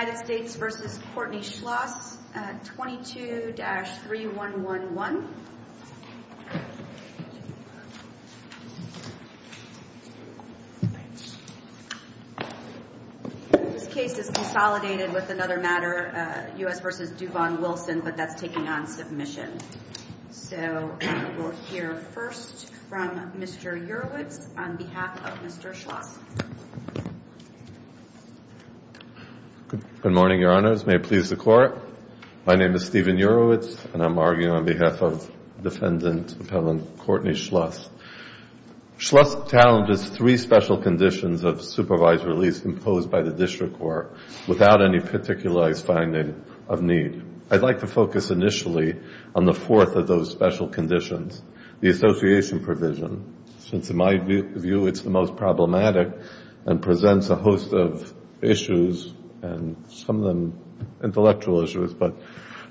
United States v. Courtney Schloss, 22-3111 This case is consolidated with another matter, U.S. v. Duvon Wilson, but that's taking on submission. So we'll hear first from Mr. Urwitz on behalf of Mr. Schloss. Good morning, Your Honors. May it please the Court. My name is Steven Urwitz, and I'm arguing on behalf of Defendant Appellant Courtney Schloss. Schloss challenges three special conditions of supervised release imposed by the District Court without any particularized finding of need. I'd like to focus initially on the fourth of those special conditions, the association provision, since in my view it's the most problematic and presents a host of issues, and some of them intellectual issues. But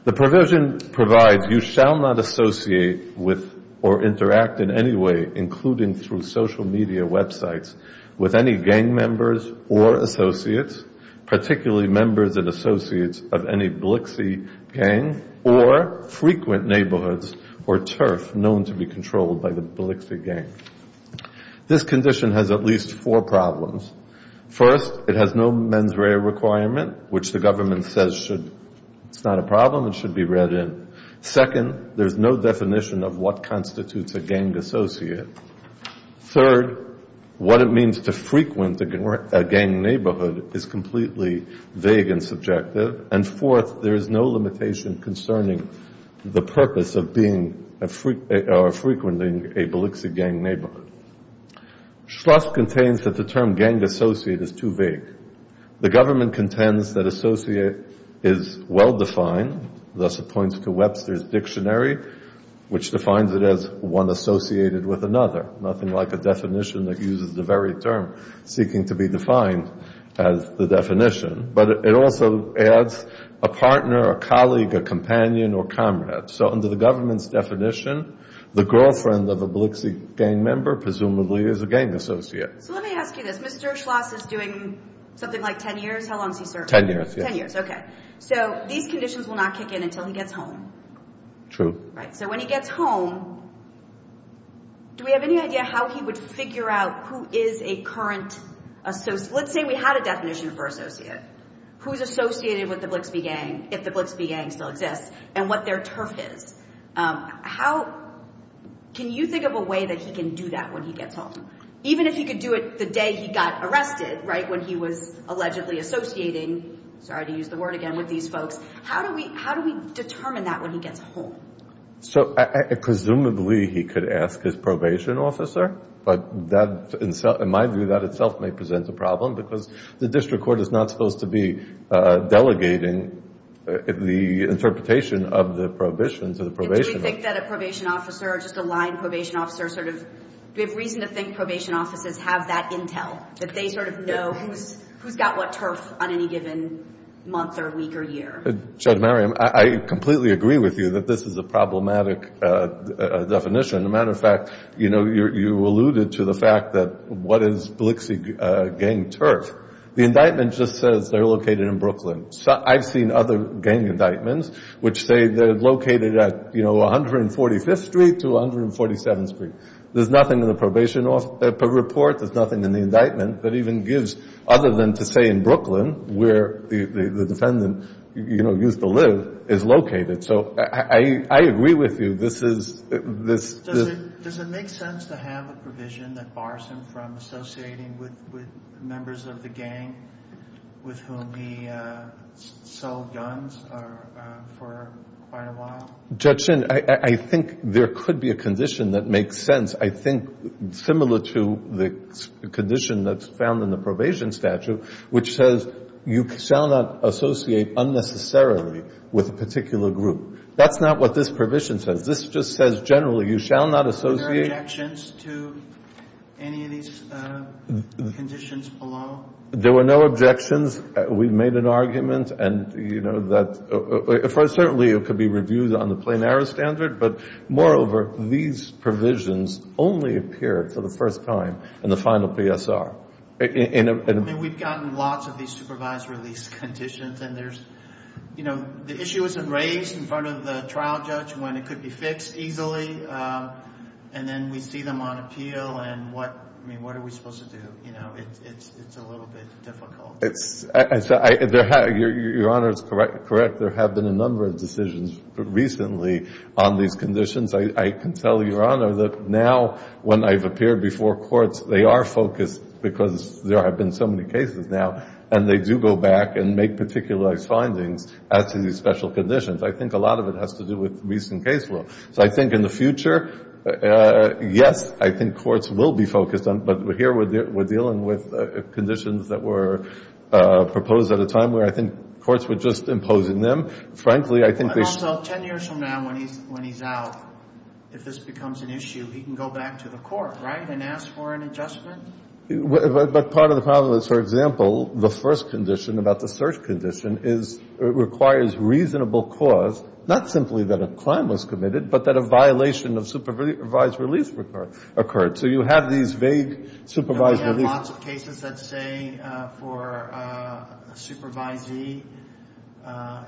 the provision provides you shall not associate with or interact in any way, including through social media websites, with any gang members or associates, particularly members and associates of any Blixey gang or frequent neighborhoods or turf known to be controlled by the Blixey gang. This condition has at least four problems. First, it has no mens rea requirement, which the government says it's not a problem and should be read in. Second, there's no definition of what constitutes a gang associate. Third, what it means to frequent a gang neighborhood is completely vague and subjective. And fourth, there is no limitation concerning the purpose of being or frequenting a Blixey gang neighborhood. Schloss contains that the term gang associate is too vague. The government contends that associate is well-defined. Thus, it points to Webster's Dictionary, which defines it as one associated with another, nothing like a definition that uses the very term seeking to be defined as the definition. But it also adds a partner, a colleague, a companion, or comrade. So under the government's definition, the girlfriend of a Blixey gang member presumably is a gang associate. So let me ask you this. Mr. Schloss is doing something like 10 years. How long is he serving? Ten years. Ten years. Okay. So these conditions will not kick in until he gets home. True. Right. So when he gets home, do we have any idea how he would figure out who is a current associate? Let's say we had a definition for associate. Who's associated with the Blixey gang, if the Blixey gang still exists, and what their turf is. How, can you think of a way that he can do that when he gets home? Even if he could do it the day he got arrested, right, when he was allegedly associating, sorry to use the word again, with these folks, how do we determine that when he gets home? So presumably he could ask his probation officer, but in my view that itself may present a problem because the district court is not supposed to be delegating the interpretation of the prohibition to the probation officer. Do we think that a probation officer or just a line probation officer sort of, do we have reason to think probation officers have that intel? That they sort of know who's got what turf on any given month or week or year? Judge Mariam, I completely agree with you that this is a problematic definition. As a matter of fact, you know, you alluded to the fact that what is Blixey gang turf? The indictment just says they're located in Brooklyn. I've seen other gang indictments which say they're located at, you know, 145th Street to 147th Street. There's nothing in the probation report, there's nothing in the indictment that even gives other than to say in Brooklyn where the defendant, you know, used to live, is located. So I agree with you, this is, this is... Does it make sense to have a provision that bars him from associating with members of the gang with whom he sold guns for quite a while? Judge Chin, I think there could be a condition that makes sense. I think similar to the condition that's found in the probation statute, which says you shall not associate unnecessarily with a particular group. That's not what this provision says. This just says generally, you shall not associate... Were there objections to any of these conditions below? There were no objections. We made an argument and, you know, that, certainly it could be reviewed on the plain error standard, but moreover, these provisions only appear for the first time in the final PSR. And we've gotten lots of these supervised release conditions and there's, you know, the issue isn't raised in front of the trial judge when it could be fixed easily and then we see them on appeal and what, I mean, what are we supposed to do? You know, it's a little bit difficult. Your Honor is correct. There have been a number of decisions recently on these conditions. I can tell you, Your Honor, that now when I've appeared before courts, they are focused because there have been so many cases now and they do go back and make particularized findings as to these special conditions. I think a lot of it has to do with recent case law. So I think in the future, yes, I think courts will be focused on, but here we're dealing with conditions that were proposed at a time where I think courts were just imposing them. Also, ten years from now when he's out, if this becomes an issue, he can go back to the court, right, and ask for an adjustment? But part of the problem is, for example, the first condition about the search condition requires reasonable cause, not simply that a crime was committed, but that a violation of supervised release occurred. So you have these vague supervised release. We have lots of cases that say for a supervisee, a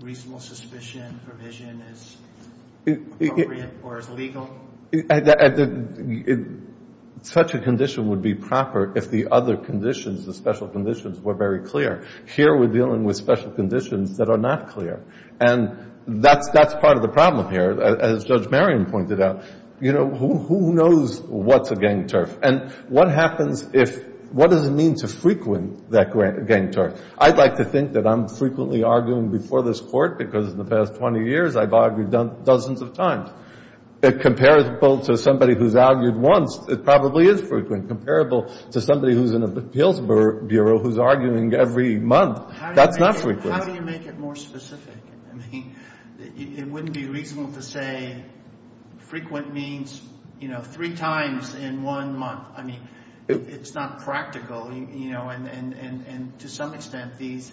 reasonable suspicion provision is appropriate or is legal. Such a condition would be proper if the other conditions, the special conditions, were very clear. Here we're dealing with special conditions that are not clear. And that's part of the problem here. As Judge Merriam pointed out, who knows what's a gang turf? And what happens if, what does it mean to frequent that gang turf? I'd like to think that I'm frequently arguing before this court because in the past 20 years I've argued dozens of times. Comparable to somebody who's argued once, it probably is frequent. Comparable to somebody who's in an appeals bureau who's arguing every month. That's not frequent. How do you make it more specific? I mean, it wouldn't be reasonable to say frequent means, you know, three times in one month. I mean, it's not practical, you know, and to some extent these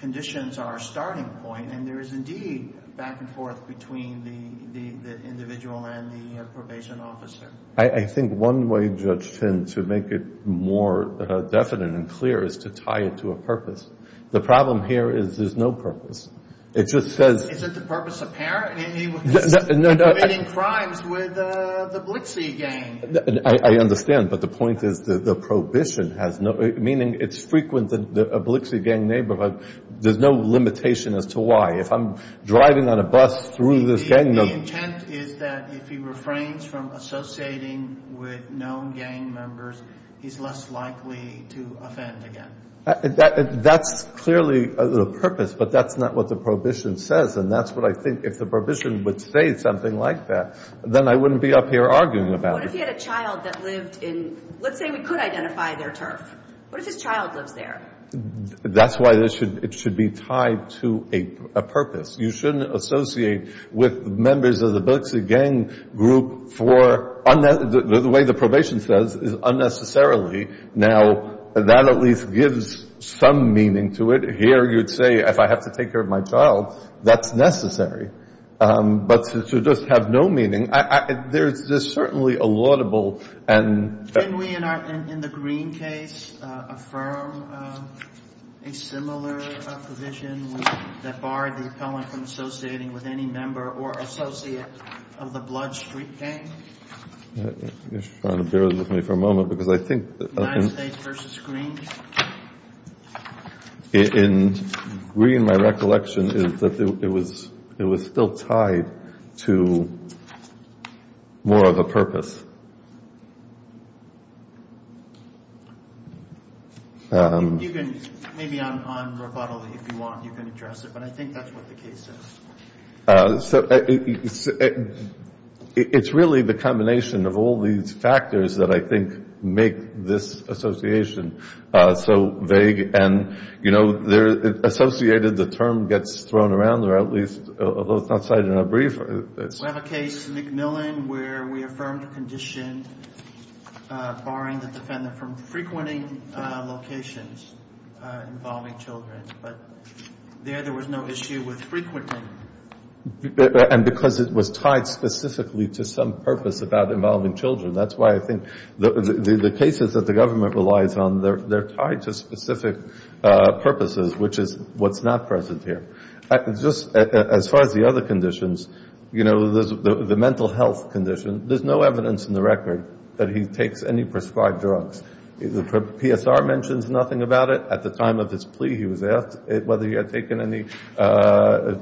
conditions are a starting point. And there is indeed back and forth between the individual and the probation officer. I think one way, Judge Finn, to make it more definite and clear is to tie it to a purpose. The problem here is there's no purpose. It just says... Is it the purpose apparent? He was committing crimes with the Blixie gang. I understand, but the point is the prohibition has no, meaning it's frequent in a Blixie gang neighborhood. There's no limitation as to why. If I'm driving on a bus through this gang... The intent is that if he refrains from associating with known gang members, he's less likely to offend again. That's clearly a purpose, but that's not what the prohibition says, and that's what I think. If the prohibition would say something like that, then I wouldn't be up here arguing about it. What if he had a child that lived in... Let's say we could identify their turf. What if his child lives there? That's why it should be tied to a purpose. You shouldn't associate with members of the Blixie gang group for... The way the probation says is unnecessarily. Now, that at least gives some meaning to it. Here, you'd say, if I have to take care of my child, that's necessary. But to just have no meaning, there's certainly a laudable... Can we, in the Green case, affirm a similar provision that barred the appellant from associating with any member or associate of the Blood Street gang? You're trying to bear with me for a moment, because I think... United States versus Green? In Green, my recollection is that it was still tied to more of a purpose. Maybe on rebuttal, if you want, you can address it, but I think that's what the case says. It's really the combination of all these factors that I think make this association so vague. Associated, the term gets thrown around, although it's not cited in our brief. We have a case, McMillan, where we affirmed a condition barring the defendant from allocations involving children. But there, there was no issue with frequenting. And because it was tied specifically to some purpose about involving children. That's why I think the cases that the government relies on, they're tied to specific purposes, which is what's not present here. Just as far as the other conditions, the mental health condition, there's no evidence in the record that he takes any prescribed drugs. The PSR mentions nothing about it. At the time of his plea, he was asked whether he had taken any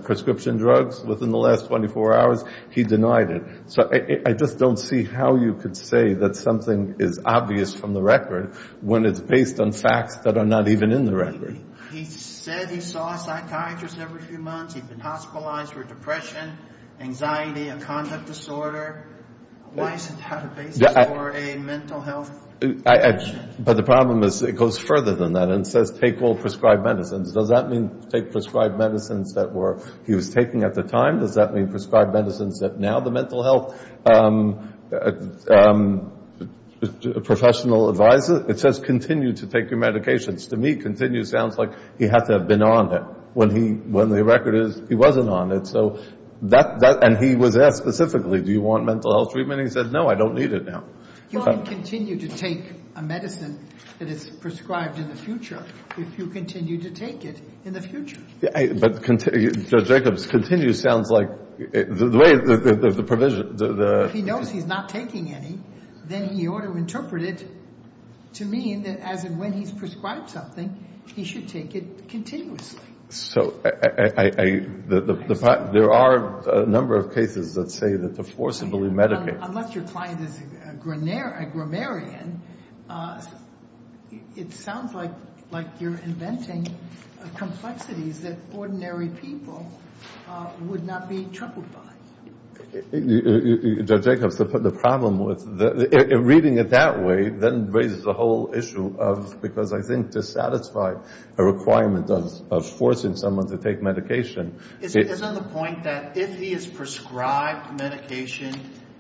prescription drugs within the last 24 hours. He denied it. So I just don't see how you could say that something is obvious from the record when it's based on facts that are not even in the record. He said he saw a psychiatrist every few months. He's been hospitalized for depression, anxiety, a conduct disorder. Why is it not a basis for a mental health condition? But the problem is it goes further than that and says take all prescribed medicines. Does that mean take prescribed medicines that he was taking at the time? Does that mean prescribed medicines that now the mental health professional advises? It says continue to take your medications. To me, continue sounds like he had to have been on it. When the record is he wasn't on it. And he was asked specifically, do you want mental health treatment? And he said no, I don't need it now. You can continue to take a medicine that is prescribed in the future if you continue to take it in the future. But judge Jacobs, continue sounds like the way the provision. If he knows he's not taking any, then he ought to interpret it to mean that as and when he's prescribed something, he should take it continuously. There are a number of cases that say that the forcibly medicated. Unless your client is a grammarian, it sounds like you're inventing complexities that ordinary people would not be troubled by. Judge Jacobs, the problem with reading it that way then raises the whole issue of because I think it dissatisfied a requirement of forcing someone to take medication. Isn't the point that if he is prescribed medication,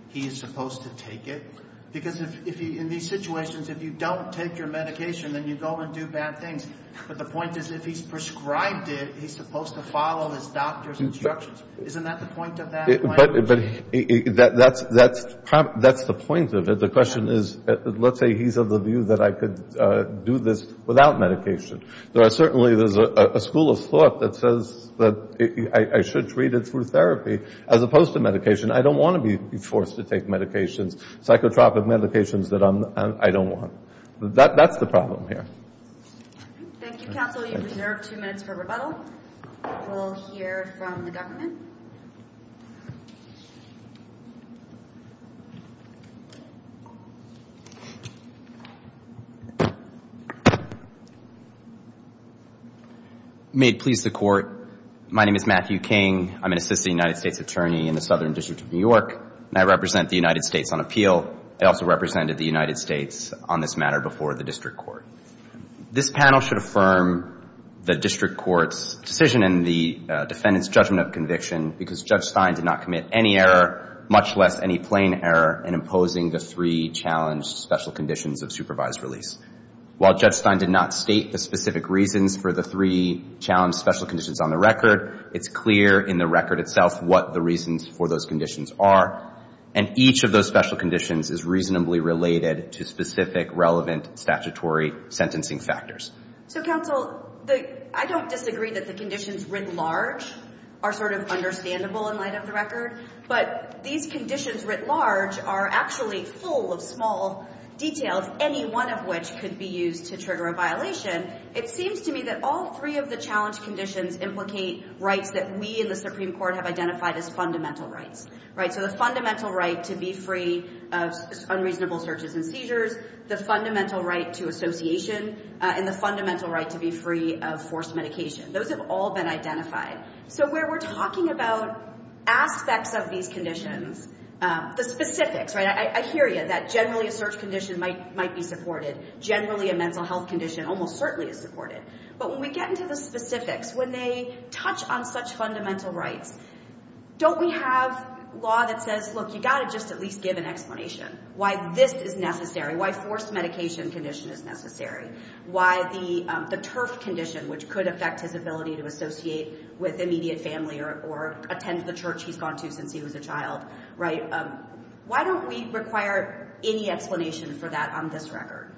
he is supposed to take it? Because in these situations, if you don't take your medication, then you go and do bad things. But the point is if he's prescribed it, he's supposed to follow his doctor's instructions. Isn't that the point of that? Let's say he's of the view that I could do this without medication. Certainly there's a school of thought that says that I should treat it through therapy as opposed to medication. I don't want to be forced to take medications, psychotropic medications that I don't want. That's the problem here. Thank you, counsel. You deserve two minutes for rebuttal. We'll hear from the government. May it please the court. My name is Matthew King. I'm an assistant United States attorney in the Southern District of New York. I represent the United States on appeal. I also represented the United States on this matter before the district court. This panel should affirm the district court's decision and the defendant's judgment of conviction because Judge Stein did not commit any error, much less any plain error, in imposing the three challenged special conditions of supervised release. While Judge Stein did not state the specific reasons for the three challenged special conditions on the record, it's clear in the record itself what the reasons for those conditions are, and each of those special conditions is reasonably related to specific relevant statutory sentencing factors. So, counsel, I don't disagree that the conditions writ large are sort of understandable in light of the record, but these conditions writ large are actually full of small details, any one of which could be used to trigger a violation. It seems to me that all three of the challenged conditions implicate rights that we in the Supreme Court have identified as fundamental rights. So the fundamental right to be free of unreasonable searches and seizures, the fundamental right to association, and the fundamental right to be free of forced medication. Those have all been identified. So where we're talking about aspects of these conditions, the specifics, I hear you, that generally a search condition might be supported, generally a mental health condition almost certainly is supported, but when we get into the specifics, when they touch on such fundamental rights, don't we have law that says, look, you've got to just at least give an explanation why this is necessary, why forced medication condition is necessary, why the TERF condition, which could affect his ability to associate with immediate family or attend the church he's gone to since he was a child, right? Why don't we require any explanation for that on this record?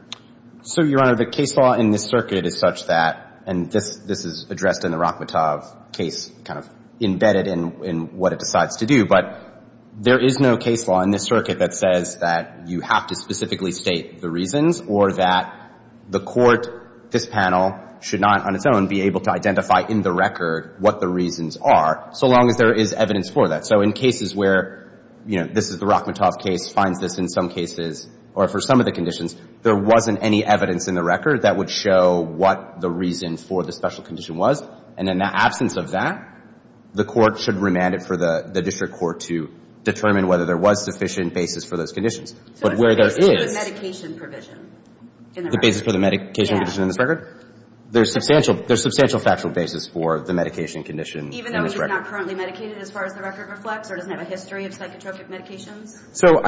So, Your Honor, the case law in this circuit is such that, and this is addressed in the Rachmatov case kind of embedded in what it decides to do, but there is no case law in this circuit that says that you have to specifically state the reasons or that the court, this panel, should not on its own be able to identify in the record what the reasons are, so long as there is evidence for that. So in cases where, you know, this is the Rachmatov case, finds this in some cases, or for some of the conditions, there wasn't any evidence in the record that would show what the reason for the special condition was, and in the absence of that, the court should remand it for the district court to determine whether there was sufficient basis for those conditions. But where there is... The basis for the medication condition in this record? There's substantial factual basis for the medication condition in this record. Even though he's not currently medicated, as far as the record reflects, or doesn't have a history of psychotropic medications? So,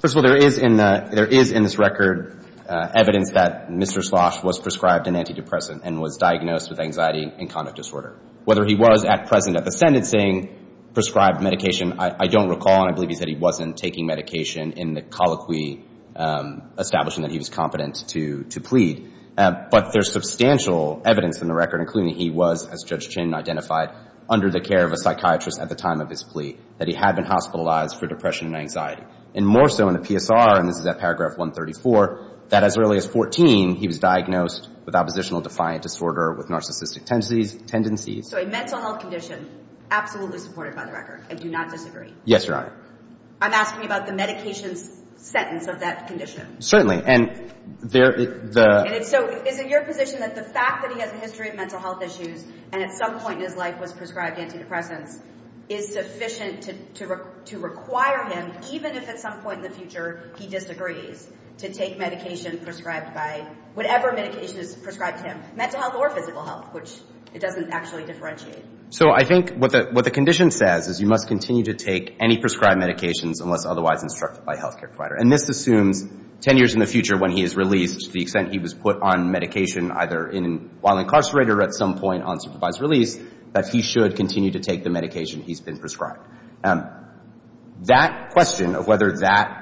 first of all, there is in this record evidence that Mr. Slosh was prescribed an antidepressant and was diagnosed with anxiety and conduct disorder. Whether he was at present at the sentencing prescribed medication, I don't recall, and I believe he said he wasn't taking medication in the colloquy establishing that he was competent to plead. But there's substantial evidence in the record, including he was, as Judge Chin identified, under the care of a psychiatrist at the time of his plea, that he had been hospitalized for depression and anxiety. And more so in the PSR, and this is at paragraph 134, that as early as 14, he was diagnosed with oppositional defiant disorder with narcissistic tendencies. So a mental health condition, absolutely supported by the record. I do not disagree. Yes, Your Honor. I'm asking about the medication sentence of that condition. Certainly. And there... So is it your position that the fact that he has a history of mental health issues and at some point in his life was prescribed antidepressants is sufficient to require him, even if at some point in the future he disagrees, to take medication prescribed by whatever medication is prescribed to him, mental health or physical health, which it doesn't actually differentiate. So I think what the condition says is you must continue to take any prescribed medications unless otherwise instructed by a health care provider. And this assumes 10 years in the future when he is released, to the extent he was put on medication either while incarcerated or at some point on supervised release, that he should continue to take the medication he's been prescribed. That question of whether that,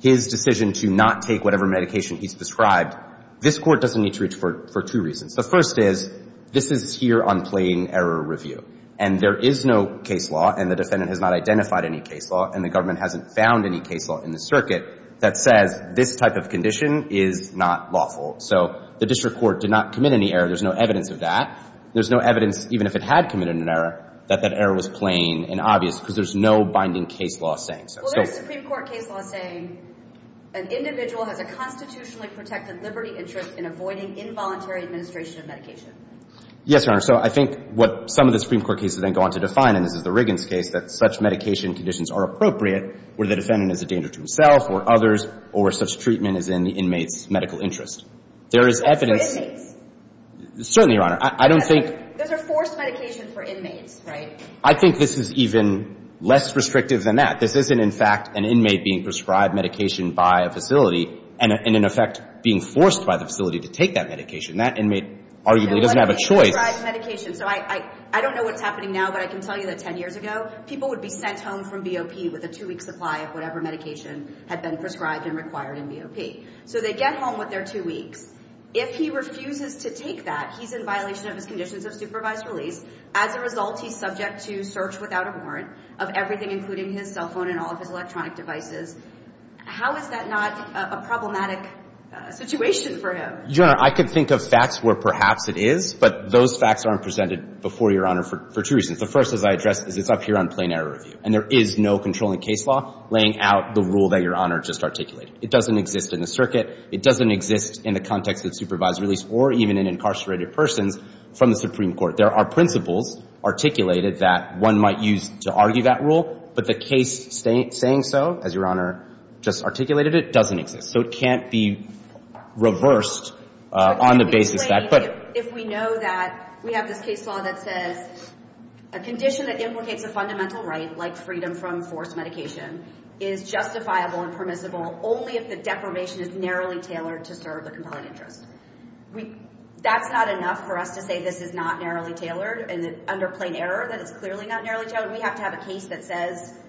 his decision to not take whatever medication he's prescribed, this Court doesn't need to reach for two reasons. The first is, this is here on plain error review. And there is no case law, and the defendant has not identified any case law, and the government hasn't found any case law in the circuit, that says this type of condition is not lawful. So the district court did not commit any error. There's no evidence of that. There's no evidence, even if it had committed an error, that that error was plain and obvious because there's no binding case law saying so. Well, there's a Supreme Court case law saying an individual has a constitutionally protected liberty interest in avoiding involuntary administration of medication. Yes, Your Honor. So I think what some of the Supreme Court cases then go on to define, and this is the Riggins case, that such medication conditions are appropriate where the defendant is a danger to himself or others or such treatment is in the inmate's medical interest. There is evidence. Certainly, Your Honor. I don't think. Those are forced medication for inmates, right? I think this is even less restrictive than that. This isn't, in fact, an inmate being prescribed medication by a facility and, in effect, being forced by the facility to take that medication. That inmate arguably doesn't have a choice. So what if he prescribed medication? So I don't know what's happening now, but I can tell you that 10 years ago, people would be sent home from BOP with a two-week supply of whatever medication had been prescribed and required in BOP. So they get home with their two weeks. If he refuses to take that, he's in violation of his conditions of supervised release. As a result, he's subject to search without a warrant of everything, including his cell phone and all of his electronic devices. How is that not a problematic situation for him? Your Honor, I can think of facts where perhaps it is, but those facts aren't presented before Your Honor for two reasons. The first, as I addressed, is it's up here on plain error review, and there is no controlling case law laying out the rule that Your Honor just articulated. It doesn't exist in the circuit. It doesn't exist in the context of supervised release or even in incarcerated persons from the Supreme Court. There are principles articulated that one might use to argue that rule, but the case saying so, as Your Honor just articulated it, doesn't exist. So it can't be reversed on the basis that – If we know that we have this case law that says a condition that implicates a fundamental right, like freedom from forced medication, is justifiable and permissible only if the deprivation is narrowly tailored to serve the compelling interest. That's not enough for us to say this is not narrowly tailored and under plain error that it's clearly not narrowly tailored. We have to have a case that says –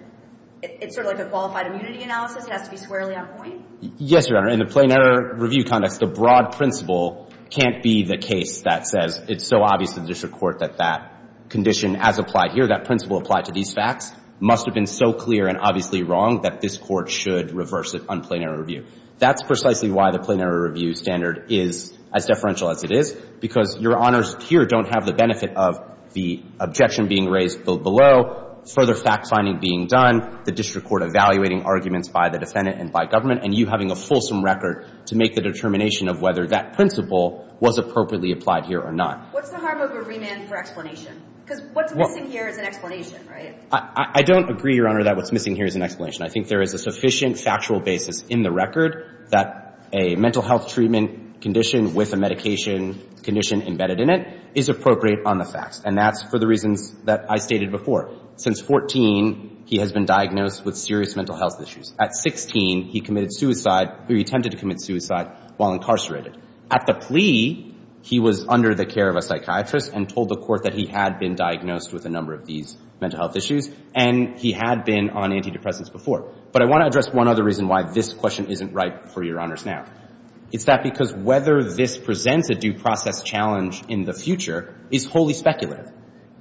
it's sort of like a qualified immunity analysis. It has to be squarely on point. Yes, Your Honor. In the plain error review context, the broad principle can't be the case that says it's so obvious to the district court that that condition as applied here, that principle applied to these facts, must have been so clear and obviously wrong that this Court should reverse it on plain error review. That's precisely why the plain error review standard is as deferential as it is, because Your Honors here don't have the benefit of the objection being raised below, further fact-finding being done, the district court evaluating arguments by the defendant and by government, and you having a fulsome record to make the determination of whether that principle was appropriately applied here or not. What's the harm of a remand for explanation? Because what's missing here is an explanation, right? I don't agree, Your Honor, that what's missing here is an explanation. I think there is a sufficient factual basis in the record that a mental health treatment condition with a medication condition embedded in it is appropriate on the facts. And that's for the reasons that I stated before. And just to give you a little bit more clarity here, I know that this Court hasn't resolved the matter and that, as you know, I said before, since 2014, he has been diagnosed with serious mental health issues. At 16, he committed suicide or he attempted to commit suicide while incarcerated. At the plea, he was under the care of a psychiatrist and told the Court that he had been diagnosed with a number of these mental health issues, and he had been on antidepressants before. But I want to address one other reason why this question isn't right for Your Honors now. It's that because whether this presents a due process challenge in the future is wholly speculative.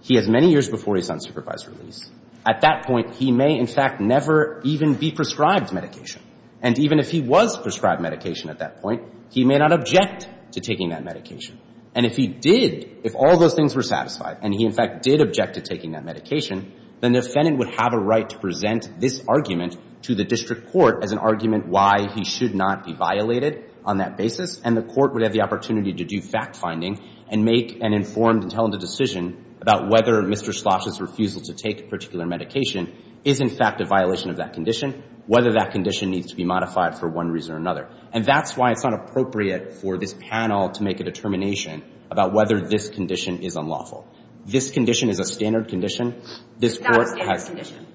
He has many years before his unsupervised release. At that point, he may, in fact, never even be prescribed medication. And even if he was prescribed medication at that point, he may not object to taking that medication. And if he did, if all those things were satisfied and he, in fact, did object to taking that medication, then the defendant would have a right to present this argument to the district court as an argument why he should not be violated on that basis, and the court would have the opportunity to do fact-finding and make an informed and talented decision about whether Mr. Schloss's refusal to take a particular medication is, in fact, a violation of that condition, whether that condition needs to be modified for one reason or another. And that's why it's not appropriate for this panel to make a determination about whether this condition is unlawful. This condition is a standard condition. This Court has... It's not a standard condition.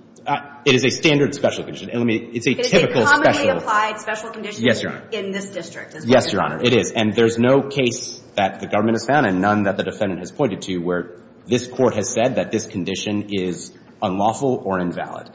It is a standard special condition. It's a typical special... But it's a commonly applied special condition... Yes, Your Honor. ...in this district as well. Yes, Your Honor, it is. And there's no case that the government has found and none that the defendant has pointed to where this Court has said that this condition is unlawful or invalid.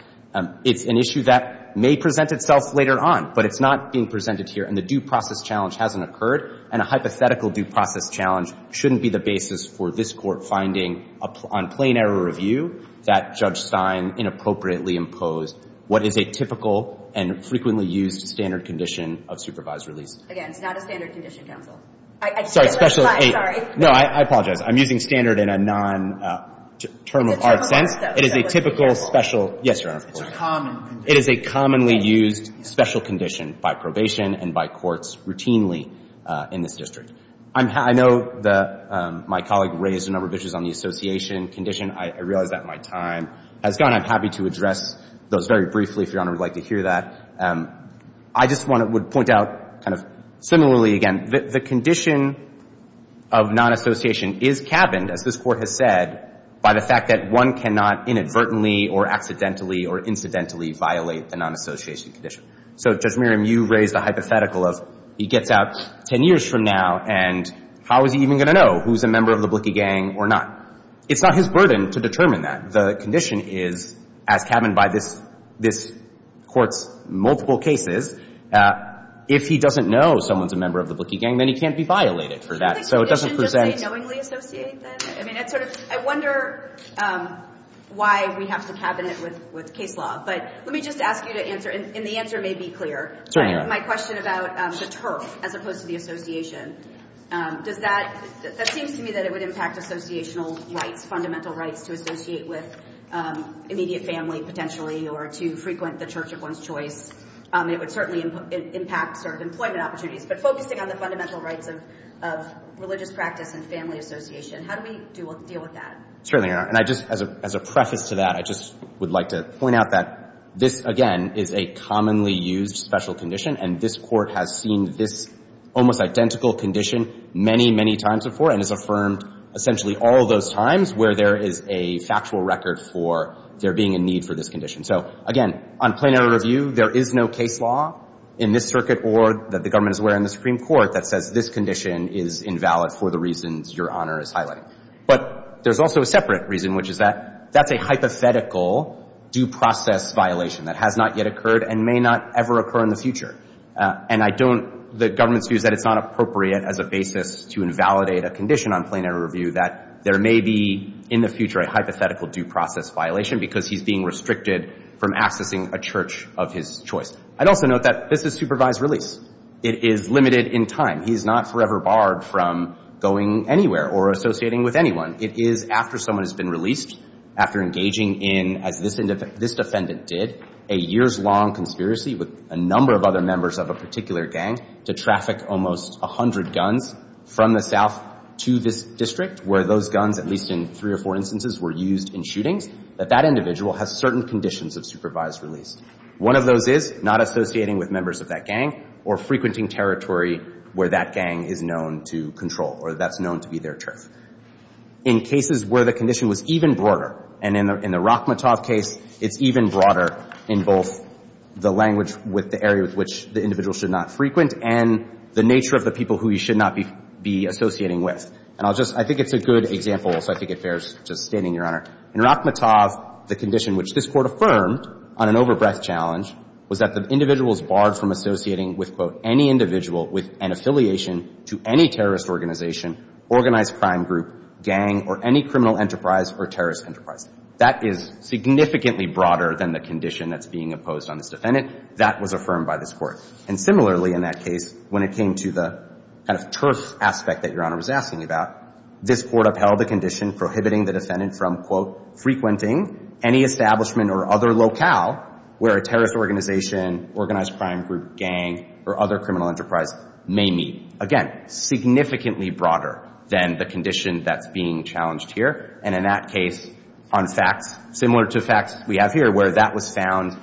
It's an issue that may present itself later on, but it's not being presented here, and the due process challenge hasn't occurred. And a hypothetical due process challenge shouldn't be the basis for this Court finding on plain error review that Judge Stein inappropriately imposed what is a typical and frequently used standard condition of supervised release. Again, it's not a standard condition, counsel. Sorry, special... I'm sorry. No, I apologize. I'm using standard in a non-term of art sense. It's a typical special... It is a typical special... Yes, Your Honor. It's a common condition. It is a commonly used special condition by probation and by courts routinely in this district. I know my colleague raised a number of issues on the association condition. I realize that my time has gone. I'm happy to address those very briefly, if Your Honor would like to hear that. I just want to point out kind of similarly again, the condition of non-association is cabined, as this Court has said, by the fact that one cannot inadvertently or accidentally or incidentally violate the non-association condition. So, Judge Merriam, you raised a hypothetical of he gets out 10 years from now, and how is he even going to know who's a member of the Blickey gang or not? It's not his burden to determine that. The condition is, as cabined by this Court's multiple cases, if he doesn't know someone's a member of the Blickey gang, then he can't be violated for that. So it doesn't present... Do you think the condition doesn't say knowingly associate, then? I mean, that's sort of... I wonder why we have to cabinet with case law. But let me just ask you to answer, and the answer may be clear. My question about the turf, as opposed to the association. Does that... That seems to me that it would impact associational rights, fundamental rights to associate with immediate family, potentially, or to frequent the church of one's choice. It would certainly impact employment opportunities. But focusing on the fundamental rights of religious practice and family association, how do we deal with that? Certainly, Your Honor. And I just... As a preface to that, I just would like to point out that this, again, is a commonly used special condition, and this Court has seen this almost identical condition many, many times before and has affirmed essentially all those times where there is a factual record for there being a need for this condition. So, again, on plain error review, there is no case law in this circuit or that the government is aware in the Supreme Court that says this condition is invalid for the reasons Your Honor is highlighting. But there's also a separate reason, which is that that's a hypothetical due process violation that has not yet occurred and may not ever occur in the future. And I don't... The government's view is that it's not appropriate as a basis to invalidate a condition on plain error review that there may be in the future a hypothetical due process violation because he's being restricted from accessing a church of his choice. I'd also note that this is supervised release. It is limited in time. He's not forever barred from going anywhere or associating with anyone. It is after someone has been released, after engaging in, as this defendant did, a years-long conspiracy with a number of other members of a particular gang to traffic almost 100 guns from the South to this district where those guns, at least in three or four instances, were used in shootings, that that individual has certain conditions of supervised release. One of those is not associating with members of that gang or frequenting territory where that gang is known to control or that's known to be their turf. In cases where the condition was even broader, and in the Rachmatov case, it's even broader in both the language with the area with which the individual should not frequent and the nature of the people who he should not be associating with. And I'll just... I think it's a good example, so I think it bears just stating, Your Honor. In Rachmatov, the condition which this Court affirmed on an overbreadth challenge was that the individual is barred from associating with, quote, any individual with an affiliation to any terrorist organization, organized crime group, gang, or any criminal enterprise or terrorist enterprise. That is significantly broader than the condition that's being opposed on this defendant. That was affirmed by this Court. And similarly, in that case, when it came to the kind of turf aspect that Your Honor was asking about, this Court upheld the condition prohibiting the defendant from, quote, frequenting any establishment or other locale where a terrorist organization, organized crime group, gang, or other criminal enterprise may meet. Again, significantly broader than the condition that's being challenged here. And in that case, on facts, similar to facts we have here where that was found,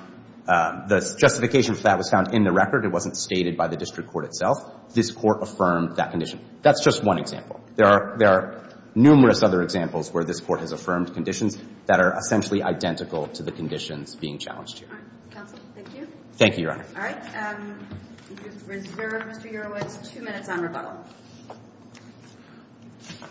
the justification for that was found in the record. It wasn't stated by the district court itself. This Court affirmed that condition. That's just one example. There are numerous other examples where this Court has affirmed conditions that are essentially identical to the conditions being challenged here. All right. Counsel, thank you. Thank you, Your Honor. All right. We reserve Mr. Urowitz two minutes on rebuttal.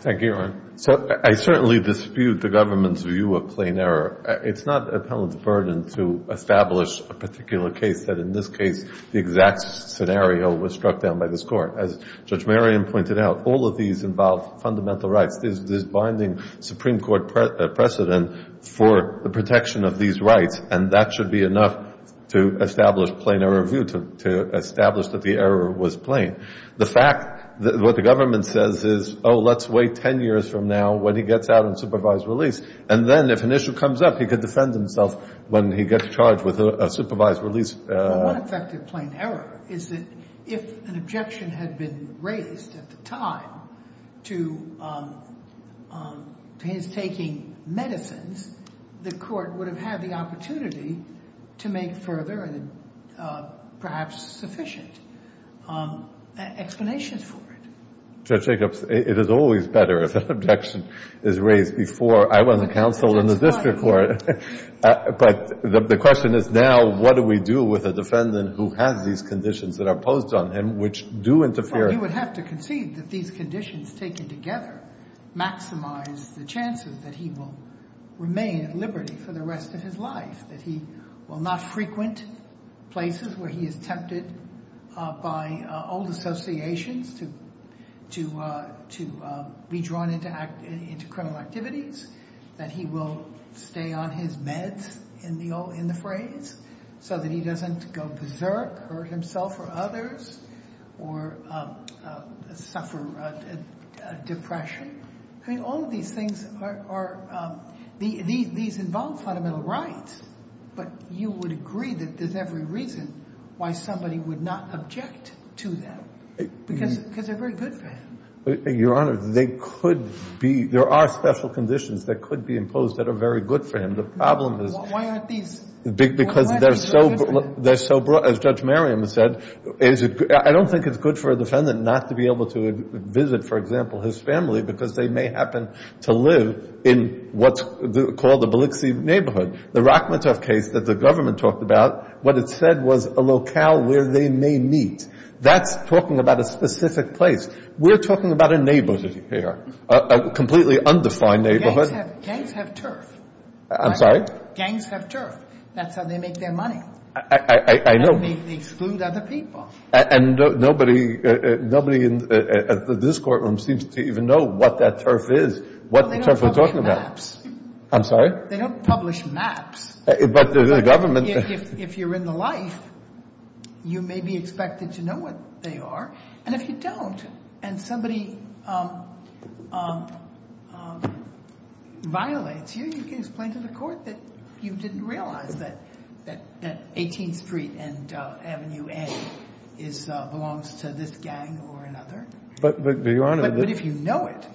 Thank you, Your Honor. So I certainly dispute the government's view of plain error. It's not the appellant's burden to establish a particular case that in this case the exact scenario was struck down by this Court. As Judge Merriam pointed out, all of these involve fundamental rights. The test is this binding Supreme Court precedent for the protection of these rights, and that should be enough to establish plain error review, to establish that the error was plain. The fact that what the government says is, oh, let's wait 10 years from now when he gets out on supervised release, and then if an issue comes up, he could defend himself when he gets charged with a supervised release. Well, one effect of plain error is that if an objection had been raised at the time to his taking medicines, the Court would have had the opportunity to make further and perhaps sufficient explanations for it. Judge Jacobs, it is always better if an objection is raised before. I wasn't counsel in the district court. But the question is now what do we do with a defendant who has these conditions that are imposed on him which do interfere? He would have to concede that these conditions taken together maximize the chances that he will remain at liberty for the rest of his life, that he will not frequent places where he is tempted by old associations to be drawn into criminal activities, that he will stay on his meds in the phrase so that he doesn't go berserk or hurt himself or others or suffer depression. I mean, all of these things are – these involve fundamental rights. But you would agree that there's every reason why somebody would not object to them because they're very good for him. Your Honor, they could be – there are special conditions that could be imposed that are very good for him. The problem is – Why aren't these – Because they're so – as Judge Merriam said, I don't think it's good for a defendant not to be able to visit, for example, his family because they may happen to live in what's called the Biloxi neighborhood. The Rachmaninoff case that the government talked about, what it said was a locale where they may meet. That's talking about a specific place. We're talking about a neighborhood here, a completely undefined neighborhood. Gangs have turf. I'm sorry? Gangs have turf. That's how they make their money. I know. They exclude other people. And nobody in this courtroom seems to even know what that turf is, what turf we're talking about. I'm sorry? They don't publish maps. But the government – If you're in the life, you may be expected to know what they are. And if you don't and somebody violates you, you can explain to the court that you didn't realize that 18th Street and Avenue A belongs to this gang or another. But, Your Honor – But if you know it,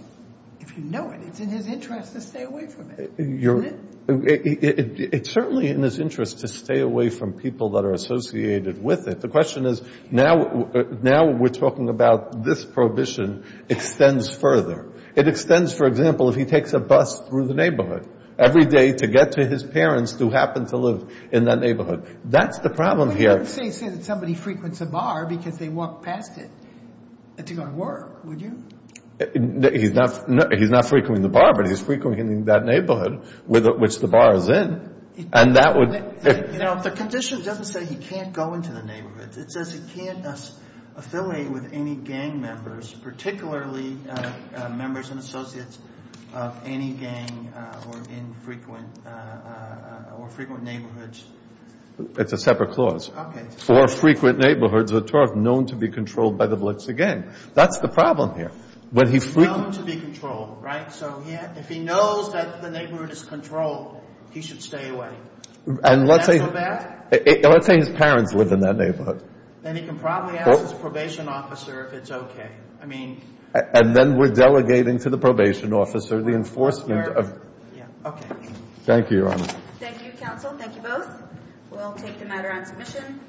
if you know it, it's in his interest to stay away from it. Isn't it? It's certainly in his interest to stay away from people that are associated with it. The question is now we're talking about this prohibition extends further. It extends, for example, if he takes a bus through the neighborhood. Every day to get to his parents who happen to live in that neighborhood. That's the problem here. But you wouldn't say that somebody frequents a bar because they walk past it to go to work, would you? He's not frequenting the bar, but he's frequenting that neighborhood which the bar is in. And that would – You know, the condition doesn't say he can't go into the neighborhood. It says he can't affiliate with any gang members, particularly members and associates of any gang or infrequent – or frequent neighborhoods. It's a separate clause. Okay. Or frequent neighborhoods that are known to be controlled by the blitz again. That's the problem here. But he's – Known to be controlled, right? So if he knows that the neighborhood is controlled, he should stay away. And let's say – Is that so bad? Let's say his parents live in that neighborhood. Then he can probably ask his probation officer if it's okay. I mean – And then we're delegating to the probation officer the enforcement of – Yeah, okay. Thank you, Your Honor. Thank you, counsel. Thank you both. We'll take the matter on submission.